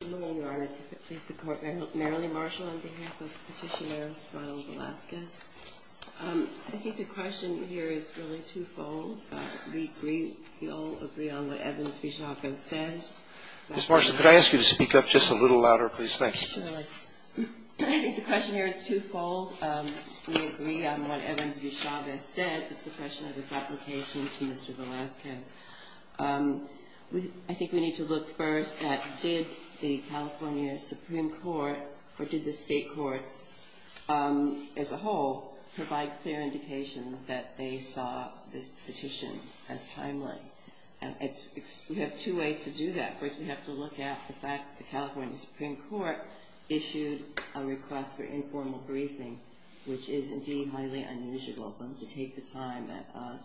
Ms. Marshall, could I ask you to speak up just a little louder, please, thank you. I think the question here is twofold. We agree on what Evans v. Chavez said. It's the question of his application to Mr. Velasquez. I think we need to look first at did the California Supreme Court or did the state courts as a whole provide clear indication that they saw this petition as timely? We have two ways to do that. First, we have to look at the fact that the California Supreme Court issued a request for informal briefing, which is indeed highly unusual for them to take the time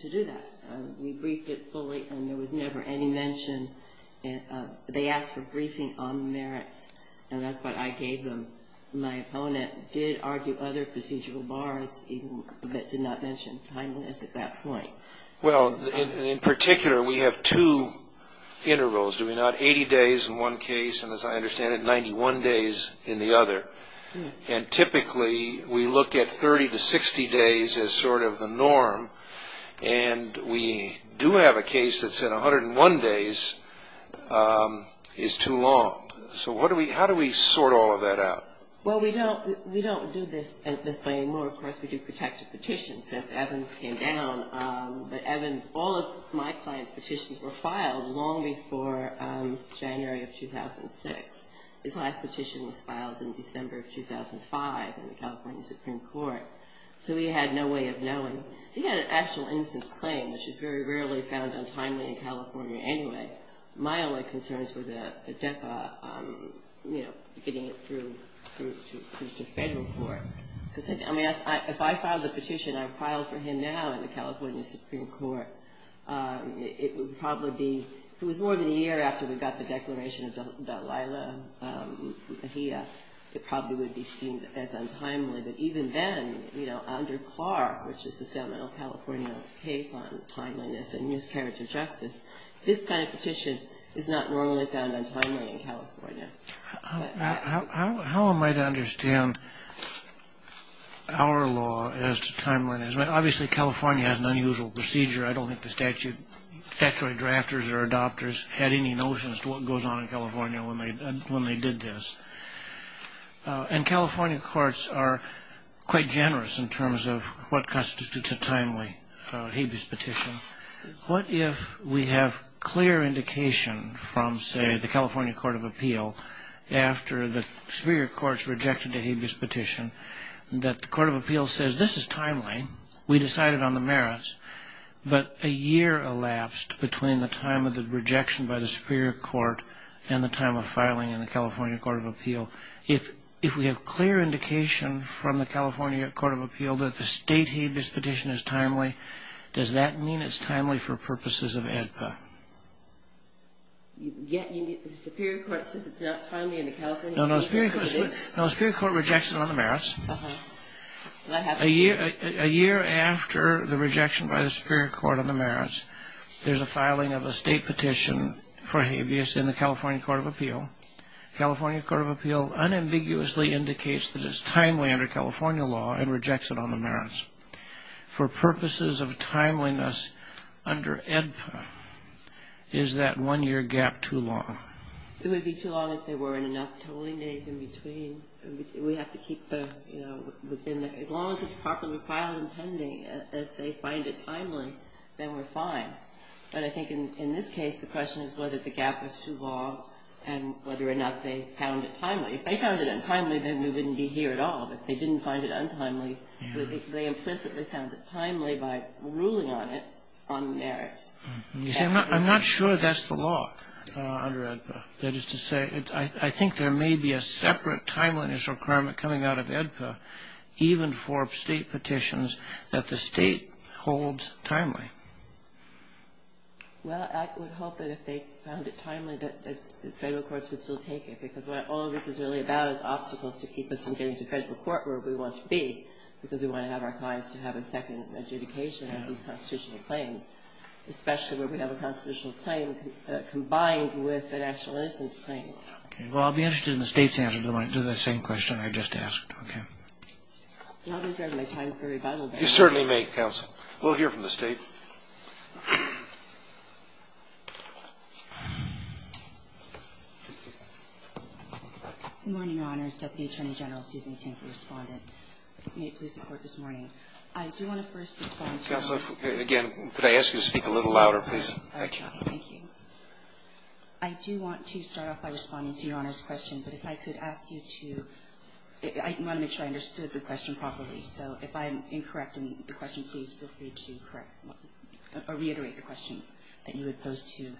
to do that. We briefed it fully and there was never any mention. They asked for briefing on the merits, and that's what I gave them. My opponent did argue other procedural bars, but did not mention timeliness at that point. Well, in particular, we have two intervals, do we not? 80 days in one case, and as I understand it, 91 days in the other. And typically, we look at 30 to 60 days as sort of the norm, and we do have a case that said 101 days is too long. So how do we sort all of that out? Well, we don't do this anymore. Of course, we do protective petitions since Evans came down, but Evans, all of my client's petitions were filed long before January of 2006. His last petition was filed in December of 2005 in the California Supreme Court, so he had no way of knowing. He had an actual innocence claim, which is very rarely found untimely in California anyway. My only concerns were the DEPA, you know, getting it through to federal court. I mean, if I filed the petition I filed for him now in the California Supreme Court, it would probably be, if it was more than a year after we got the declaration of Delilah Mejia, it probably would be seen as untimely. But even then, you know, under Clark, which is the Sacramento, California case on timeliness and miscarriage of justice, this kind of petition is not normally found untimely in California. How am I to understand our law as to timeliness? Obviously, California has an unusual procedure. I don't think the statutory drafters or adopters had any notions to what goes on in California when they did this. And California courts are quite generous in terms of what constitutes a timely habeas petition. What if we have clear indication from, say, the California Court of Appeal, after the superior courts rejected the habeas petition, that the Court of Appeal says this is timely, we decided on the merits, but a year elapsed between the time of the rejection by the superior court and the time of filing in the California Court of Appeal. If we have clear indication from the California Court of Appeal that the state habeas petition is timely, does that mean it's timely for purposes of ADPA? The superior court says it's not timely in the California case? No, the superior court rejects it on the merits. A year after the rejection by the superior court on the merits, there's a filing of a state petition for habeas in the California Court of Appeal. The California Court of Appeal unambiguously indicates that it's timely under California law and rejects it on the merits. For purposes of timeliness under ADPA, is that one-year gap too long? It would be too long if there weren't enough tolling days in between. We have to keep the, you know, as long as it's properly filed and pending, if they find it timely, then we're fine. But I think in this case, the question is whether the gap was too long and whether or not they found it timely. If they found it untimely, then we wouldn't be here at all. If they didn't find it untimely, they implicitly found it timely by ruling on it on the merits. I'm not sure that's the law under ADPA. That is to say, I think there may be a separate timeliness requirement coming out of ADPA, even for state petitions, that the state holds timely. Well, I would hope that if they found it timely, that Federal courts would still take it, because what all of this is really about is obstacles to keep us from getting to Federal court where we want to be, because we want to have our clients to have a second adjudication on these constitutional claims, especially where we have a constitutional claim combined with a national innocence claim. Okay. Well, I'll be interested in the State's answer to the same question I just asked. Okay. Do I deserve my time for rebuttal? You certainly may, Counsel. We'll hear from the State. Thank you. Good morning, Your Honors. Deputy Attorney General Susan Kim for Respondent. May it please the Court this morning. I do want to first respond to your Honor's question. Counsel, again, could I ask you to speak a little louder, please? All right, Your Honor. Thank you. I do want to start off by responding to Your Honor's question, but if I could ask you to I want to make sure I understood the question properly. So if I'm incorrect in the question, please feel free to correct or reiterate the question that you had posed to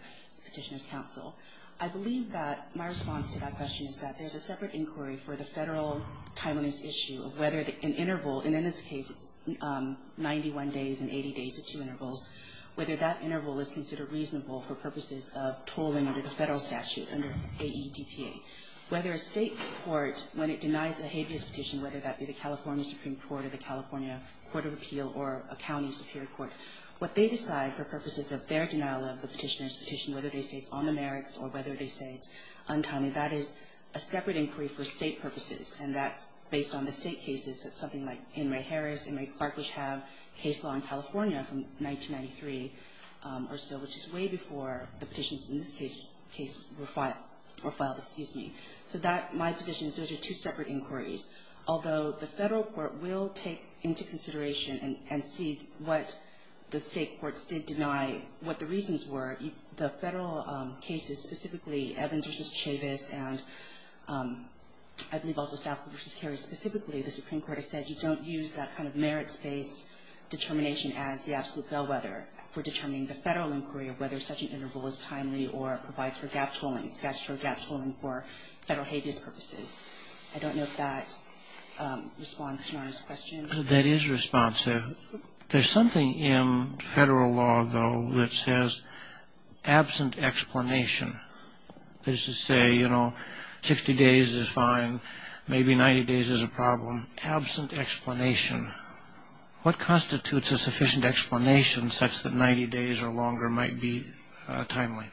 Petitioner's Counsel. I believe that my response to that question is that there's a separate inquiry for the Federal time on this issue of whether an interval, and in this case, it's 91 days and 80 days at two intervals, whether that interval is considered reasonable for purposes of tolling under the Federal statute under AEDPA, whether a State court, when it denies a habeas petition, whether that be the California Supreme Court or the California Court of Appeal or a county superior court, what they decide for purposes of their denial of the petitioner's petition, whether they say it's on the merits or whether they say it's untimely, that is a separate inquiry for State purposes, and that's based on the State cases, something like Henry Harris, Henry Clark, which have case law in California from 1993 or so, which is way before the petitions in this case were filed. So my position is those are two separate inquiries, although the Federal court will take into consideration and see what the State courts did deny, what the reasons were. The Federal cases, specifically Evans v. Chavis and I believe also Stafford v. Cary specifically, the Supreme Court has said you don't use that kind of merits-based determination as the absolute bellwether for determining the Federal inquiry of whether such an interval is timely or provides for gap tolling, statutory gap tolling for Federal habeas purposes. I don't know if that responds to Norah's question. That is responsive. There's something in Federal law, though, that says absent explanation. That is to say, you know, 60 days is fine. Maybe 90 days is a problem. Absent explanation. What constitutes a sufficient explanation such that 90 days or longer might be timely?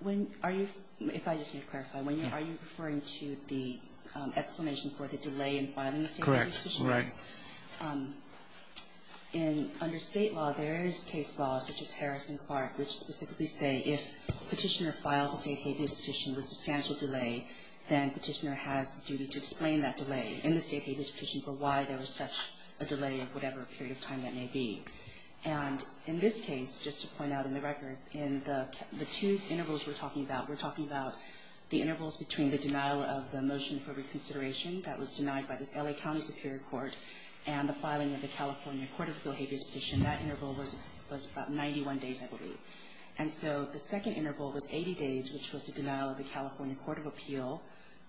When are you, if I just may clarify, are you referring to the explanation for the delay in filing the State habeas petition? Correct. Right. In under State law, there is case law such as Harris and Clark, which specifically say if Petitioner files a State habeas petition with substantial delay, then Petitioner has a duty to explain that delay in the State habeas petition for why there was such a delay of whatever period of time that may be. And in this case, just to point out in the record, in the two intervals we're talking about, we're talking about the intervals between the denial of the motion for reconsideration that was denied by the L.A. County Superior Court and the filing of the California Court of Appeal habeas petition. That interval was about 91 days, I believe. And so the second interval was 80 days, which was the denial of the California Court of Appeal,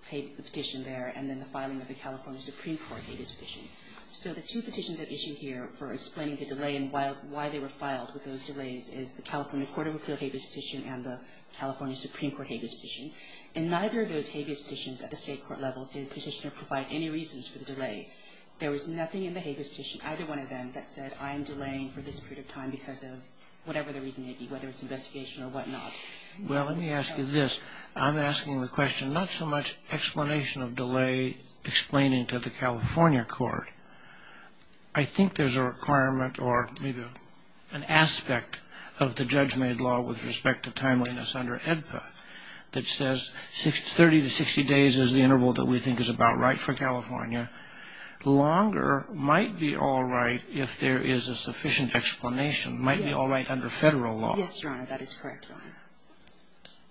the petition there, and then the filing of the California Supreme Court habeas petition. So the two petitions at issue here for explaining the delay and why they were filed with those delays is the California Court of Appeal habeas petition and the California Supreme Court habeas petition. In neither of those habeas petitions at the State court level did Petitioner provide any reasons for the delay. There was nothing in the habeas petition, either one of them, that said I am delaying for this period of time because of whatever the reason may be, whether it's investigation or whatnot. Well, let me ask you this. I'm asking the question, not so much explanation of delay explaining to the California Court. I think there's a requirement or maybe an aspect of the judge-made law with respect to timeliness under EDFA that says 30 to 60 days is the interval that we think is about right for California. Longer might be all right if there is a sufficient explanation, might be all right under Federal law. Yes, Your Honor, that is correct, Your Honor.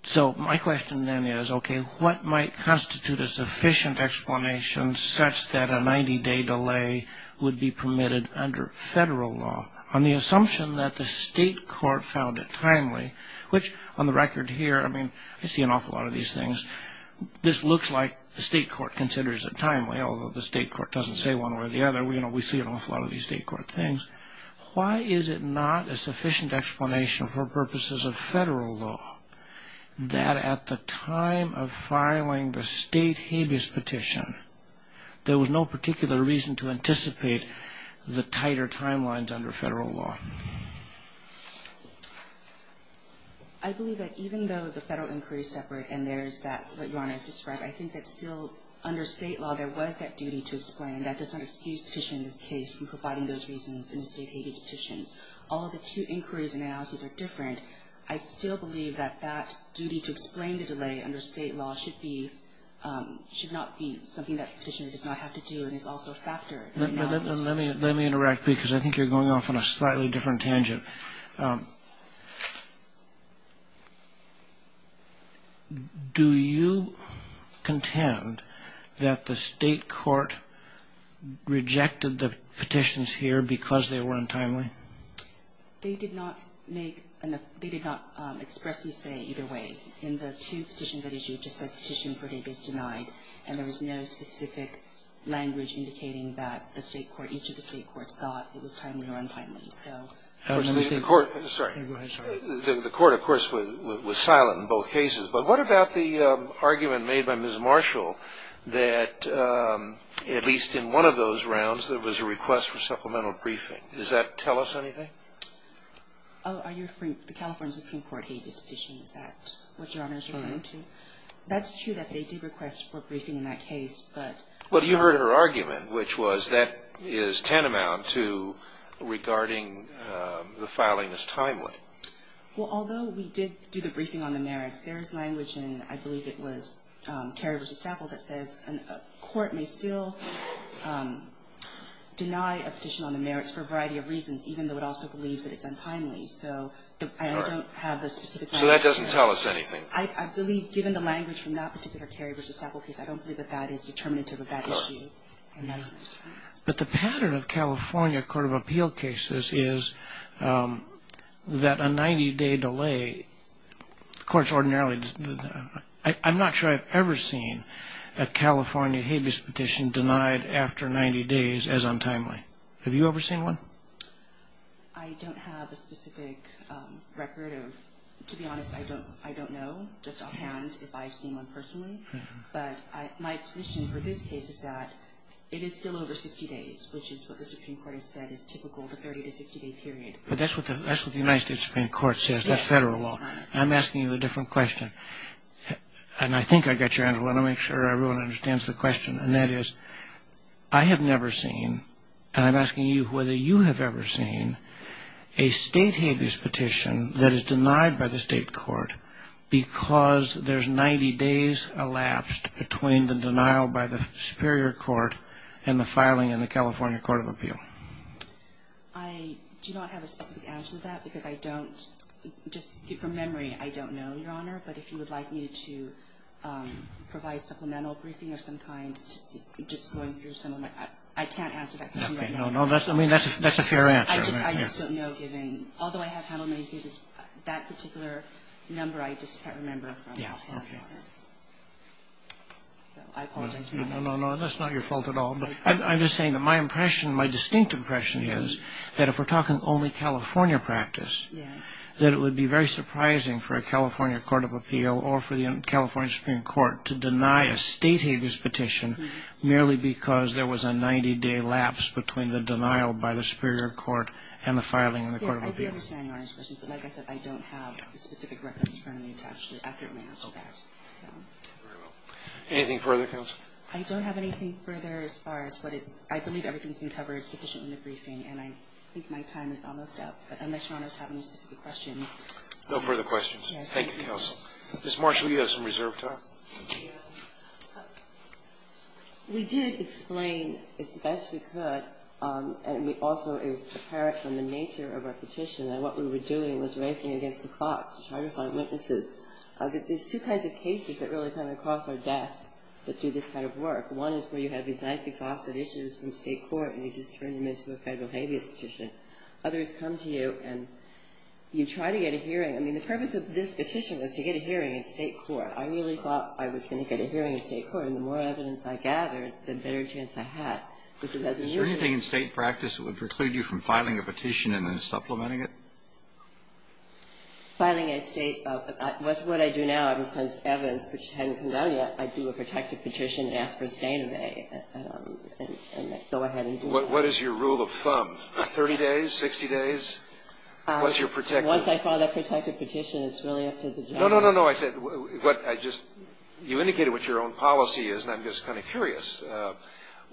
So my question then is, okay, what might constitute a sufficient explanation such that a 90-day delay would be permitted under Federal law on the assumption that the State court found it timely, which on the record here, I mean, I see an awful lot of these things. This looks like the State court considers it timely, although the State court doesn't say one way or the other. We see an awful lot of these State court things. Why is it not a sufficient explanation for purposes of Federal law that at the time of filing the State habeas petition, there was no particular reason to anticipate the tighter timelines under Federal law? I believe that even though the Federal inquiry is separate and there is that, what Your Honor has described, I think that still under State law, there was that duty to explain. That does not excuse Petitioner in this case from providing those reasons in the State habeas petitions. All of the two inquiries and analyses are different. I still believe that that duty to explain the delay under State law should be, should not be something that Petitioner does not have to do and is also a factor in analysis. Let me, let me interact because I think you're going off on a slightly different tangent. Do you contend that the State court rejected the petitions here because they were untimely? They did not make, they did not expressly say either way. In the two petitions that issued, just said Petitioner for habeas denied, and there was no specific language indicating that the State court, each of the State courts thought it was timely or untimely, so. The court, sorry. The court, of course, was silent in both cases. But what about the argument made by Ms. Marshall that at least in one of those rounds there was a request for supplemental briefing? Does that tell us anything? Oh, are you, the California Supreme Court hate this petition? Is that what Your Honor is referring to? That's true that they did request for briefing in that case, but. Well, you heard her argument, which was that is tantamount to regarding the filing as timely. Well, although we did do the briefing on the merits, there is language in, I believe it was Carey v. Staple that says a court may still deny a petition on the merits for a variety of reasons, even though it also believes that it's untimely. So I don't have the specific language. So that doesn't tell us anything. I believe given the language from that particular Carey v. Staple case, I don't believe that that is determinative of that issue. But the pattern of California Court of Appeal cases is that a 90-day delay, the courts ordinarily, I'm not sure I've ever seen a California habeas petition denied after 90 days as untimely. Have you ever seen one? I don't have a specific record of. To be honest, I don't know just offhand if I've seen one personally. But my position for this case is that it is still over 60 days, which is what the Supreme Court has said is typical of a 30- to 60-day period. But that's what the United States Supreme Court says, not federal law. I'm asking you a different question. And I think I've got your answer. I want to make sure everyone understands the question. And that is, I have never seen, and I'm asking you whether you have ever seen a state habeas petition that is denied by the state court because there's 90 days elapsed between the denial by the superior court and the filing in the California Court of Appeal. I do not have a specific answer to that because I don't, just from memory, I don't know, Your Honor. But if you would like me to provide supplemental briefing of some kind, just going through some of my, I can't answer that question right now. Okay. No, no. I mean, that's a fair answer. I just don't know, given, although I have handled many cases, that particular number I just can't remember from my hard work. Okay. So I apologize for that. No, no, no. That's not your fault at all. I'm just saying that my impression, my distinct impression is that if we're talking only California practice, that it would be very surprising for a California court of appeal or for the California Supreme Court to deny a state habeas petition merely because there was a 90-day lapse between the denial by the superior court and the filing in the court of appeal. Yes, I do understand, Your Honor's question. But like I said, I don't have the specific records currently attached to accurately answer that. Okay. Very well. Anything further, counsel? I don't have anything further as far as what it, I believe everything's been covered sufficiently in the briefing, and I think my time is almost up. But unless Your Honor's having specific questions. No further questions. Thank you, counsel. Ms. Marshall, you have some reserved time. Thank you, Your Honor. We did explain as best we could, and it also is apparent from the nature of our petition, that what we were doing was racing against the clock to try to find witnesses. There's two kinds of cases that really come across our desk that do this kind of work. One is where you have these nice, exhausted issues from state court, and you just turn them into a federal habeas petition. Others come to you, and you try to get a hearing. I mean, the purpose of this petition was to get a hearing in state court. I really thought I was going to get a hearing in state court, and the more evidence I gathered, the better chance I had. Is there anything in state practice that would preclude you from filing a petition and then supplementing it? Filing a state, what I do now, ever since evidence hadn't come down yet, I do a protective petition and ask for a stain of A and go ahead and do it. What is your rule of thumb? Thirty days? Sixty days? Once I file that protective petition, it's really up to the judge. No, no, no. You indicated what your own policy is, and I'm just kind of curious.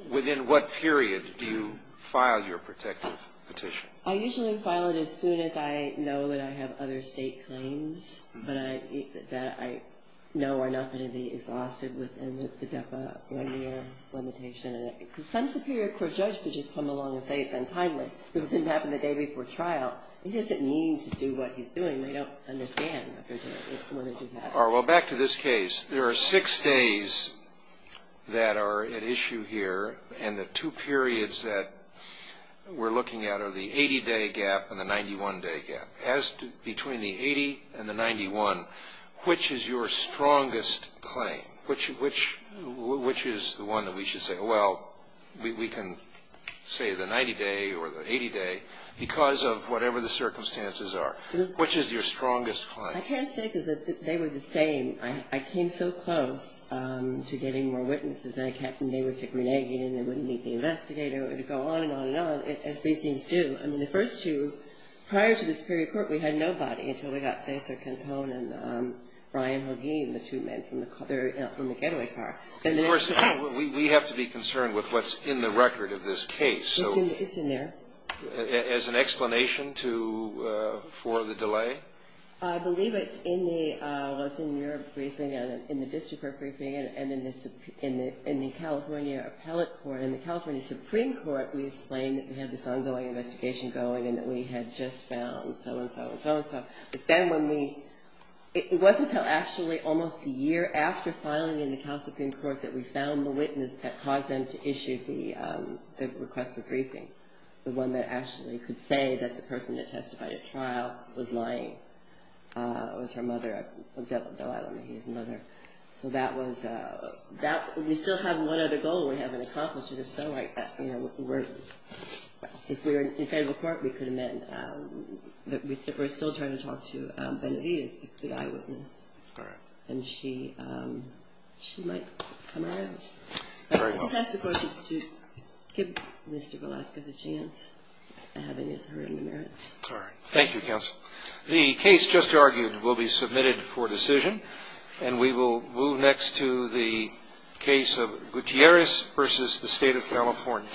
Within what period do you file your protective petition? I usually file it as soon as I know that I have other state claims that I know are not going to be exhausted within the DEPA one-year limitation. Because some superior court judge could just come along and say it's untimely because it didn't happen the day before trial. It doesn't mean to do what he's doing. They don't understand when it didn't happen. All right. Well, back to this case. There are six days that are at issue here, and the two periods that we're looking at are the 80-day gap and the 91-day gap. As to between the 80 and the 91, which is your strongest claim? Which is the one that we should say, well, we can say the 90-day or the 80-day because of whatever the circumstances are. Which is your strongest claim? I can't say because they were the same. I came so close to getting more witnesses, and they would kick me naked, and they wouldn't meet the investigator. It would go on and on and on, as these things do. I mean, the first two, prior to the superior court, we had nobody until we got Cesar Cantone and Brian Hogueen, the two men from the getaway car. Of course, we have to be concerned with what's in the record of this case. It's in there. As an explanation for the delay? I believe it's in your briefing and in the district court briefing and in the California Appellate Court. In the California Supreme Court, we explained that we had this ongoing investigation going and that we had just found so-and-so and so-and-so. But then when we – it wasn't until actually almost a year after filing in the California Supreme Court that we found the witness that caused them to issue the request for briefing, the one that actually could say that the person that testified at trial was lying. It was her mother, Delilah Mahe's mother. So that was – we still have one other goal we haven't accomplished, and if so, if we were in federal court, we could have met, but we're still trying to talk to Benavides, the eyewitness. All right. And she might come around. Very well. Just ask the court to give Mr. Velasquez a chance at having his or her in the merits. All right. Thank you, counsel. The case just argued will be submitted for decision, and we will move next to the case of Gutierrez v. The State of California.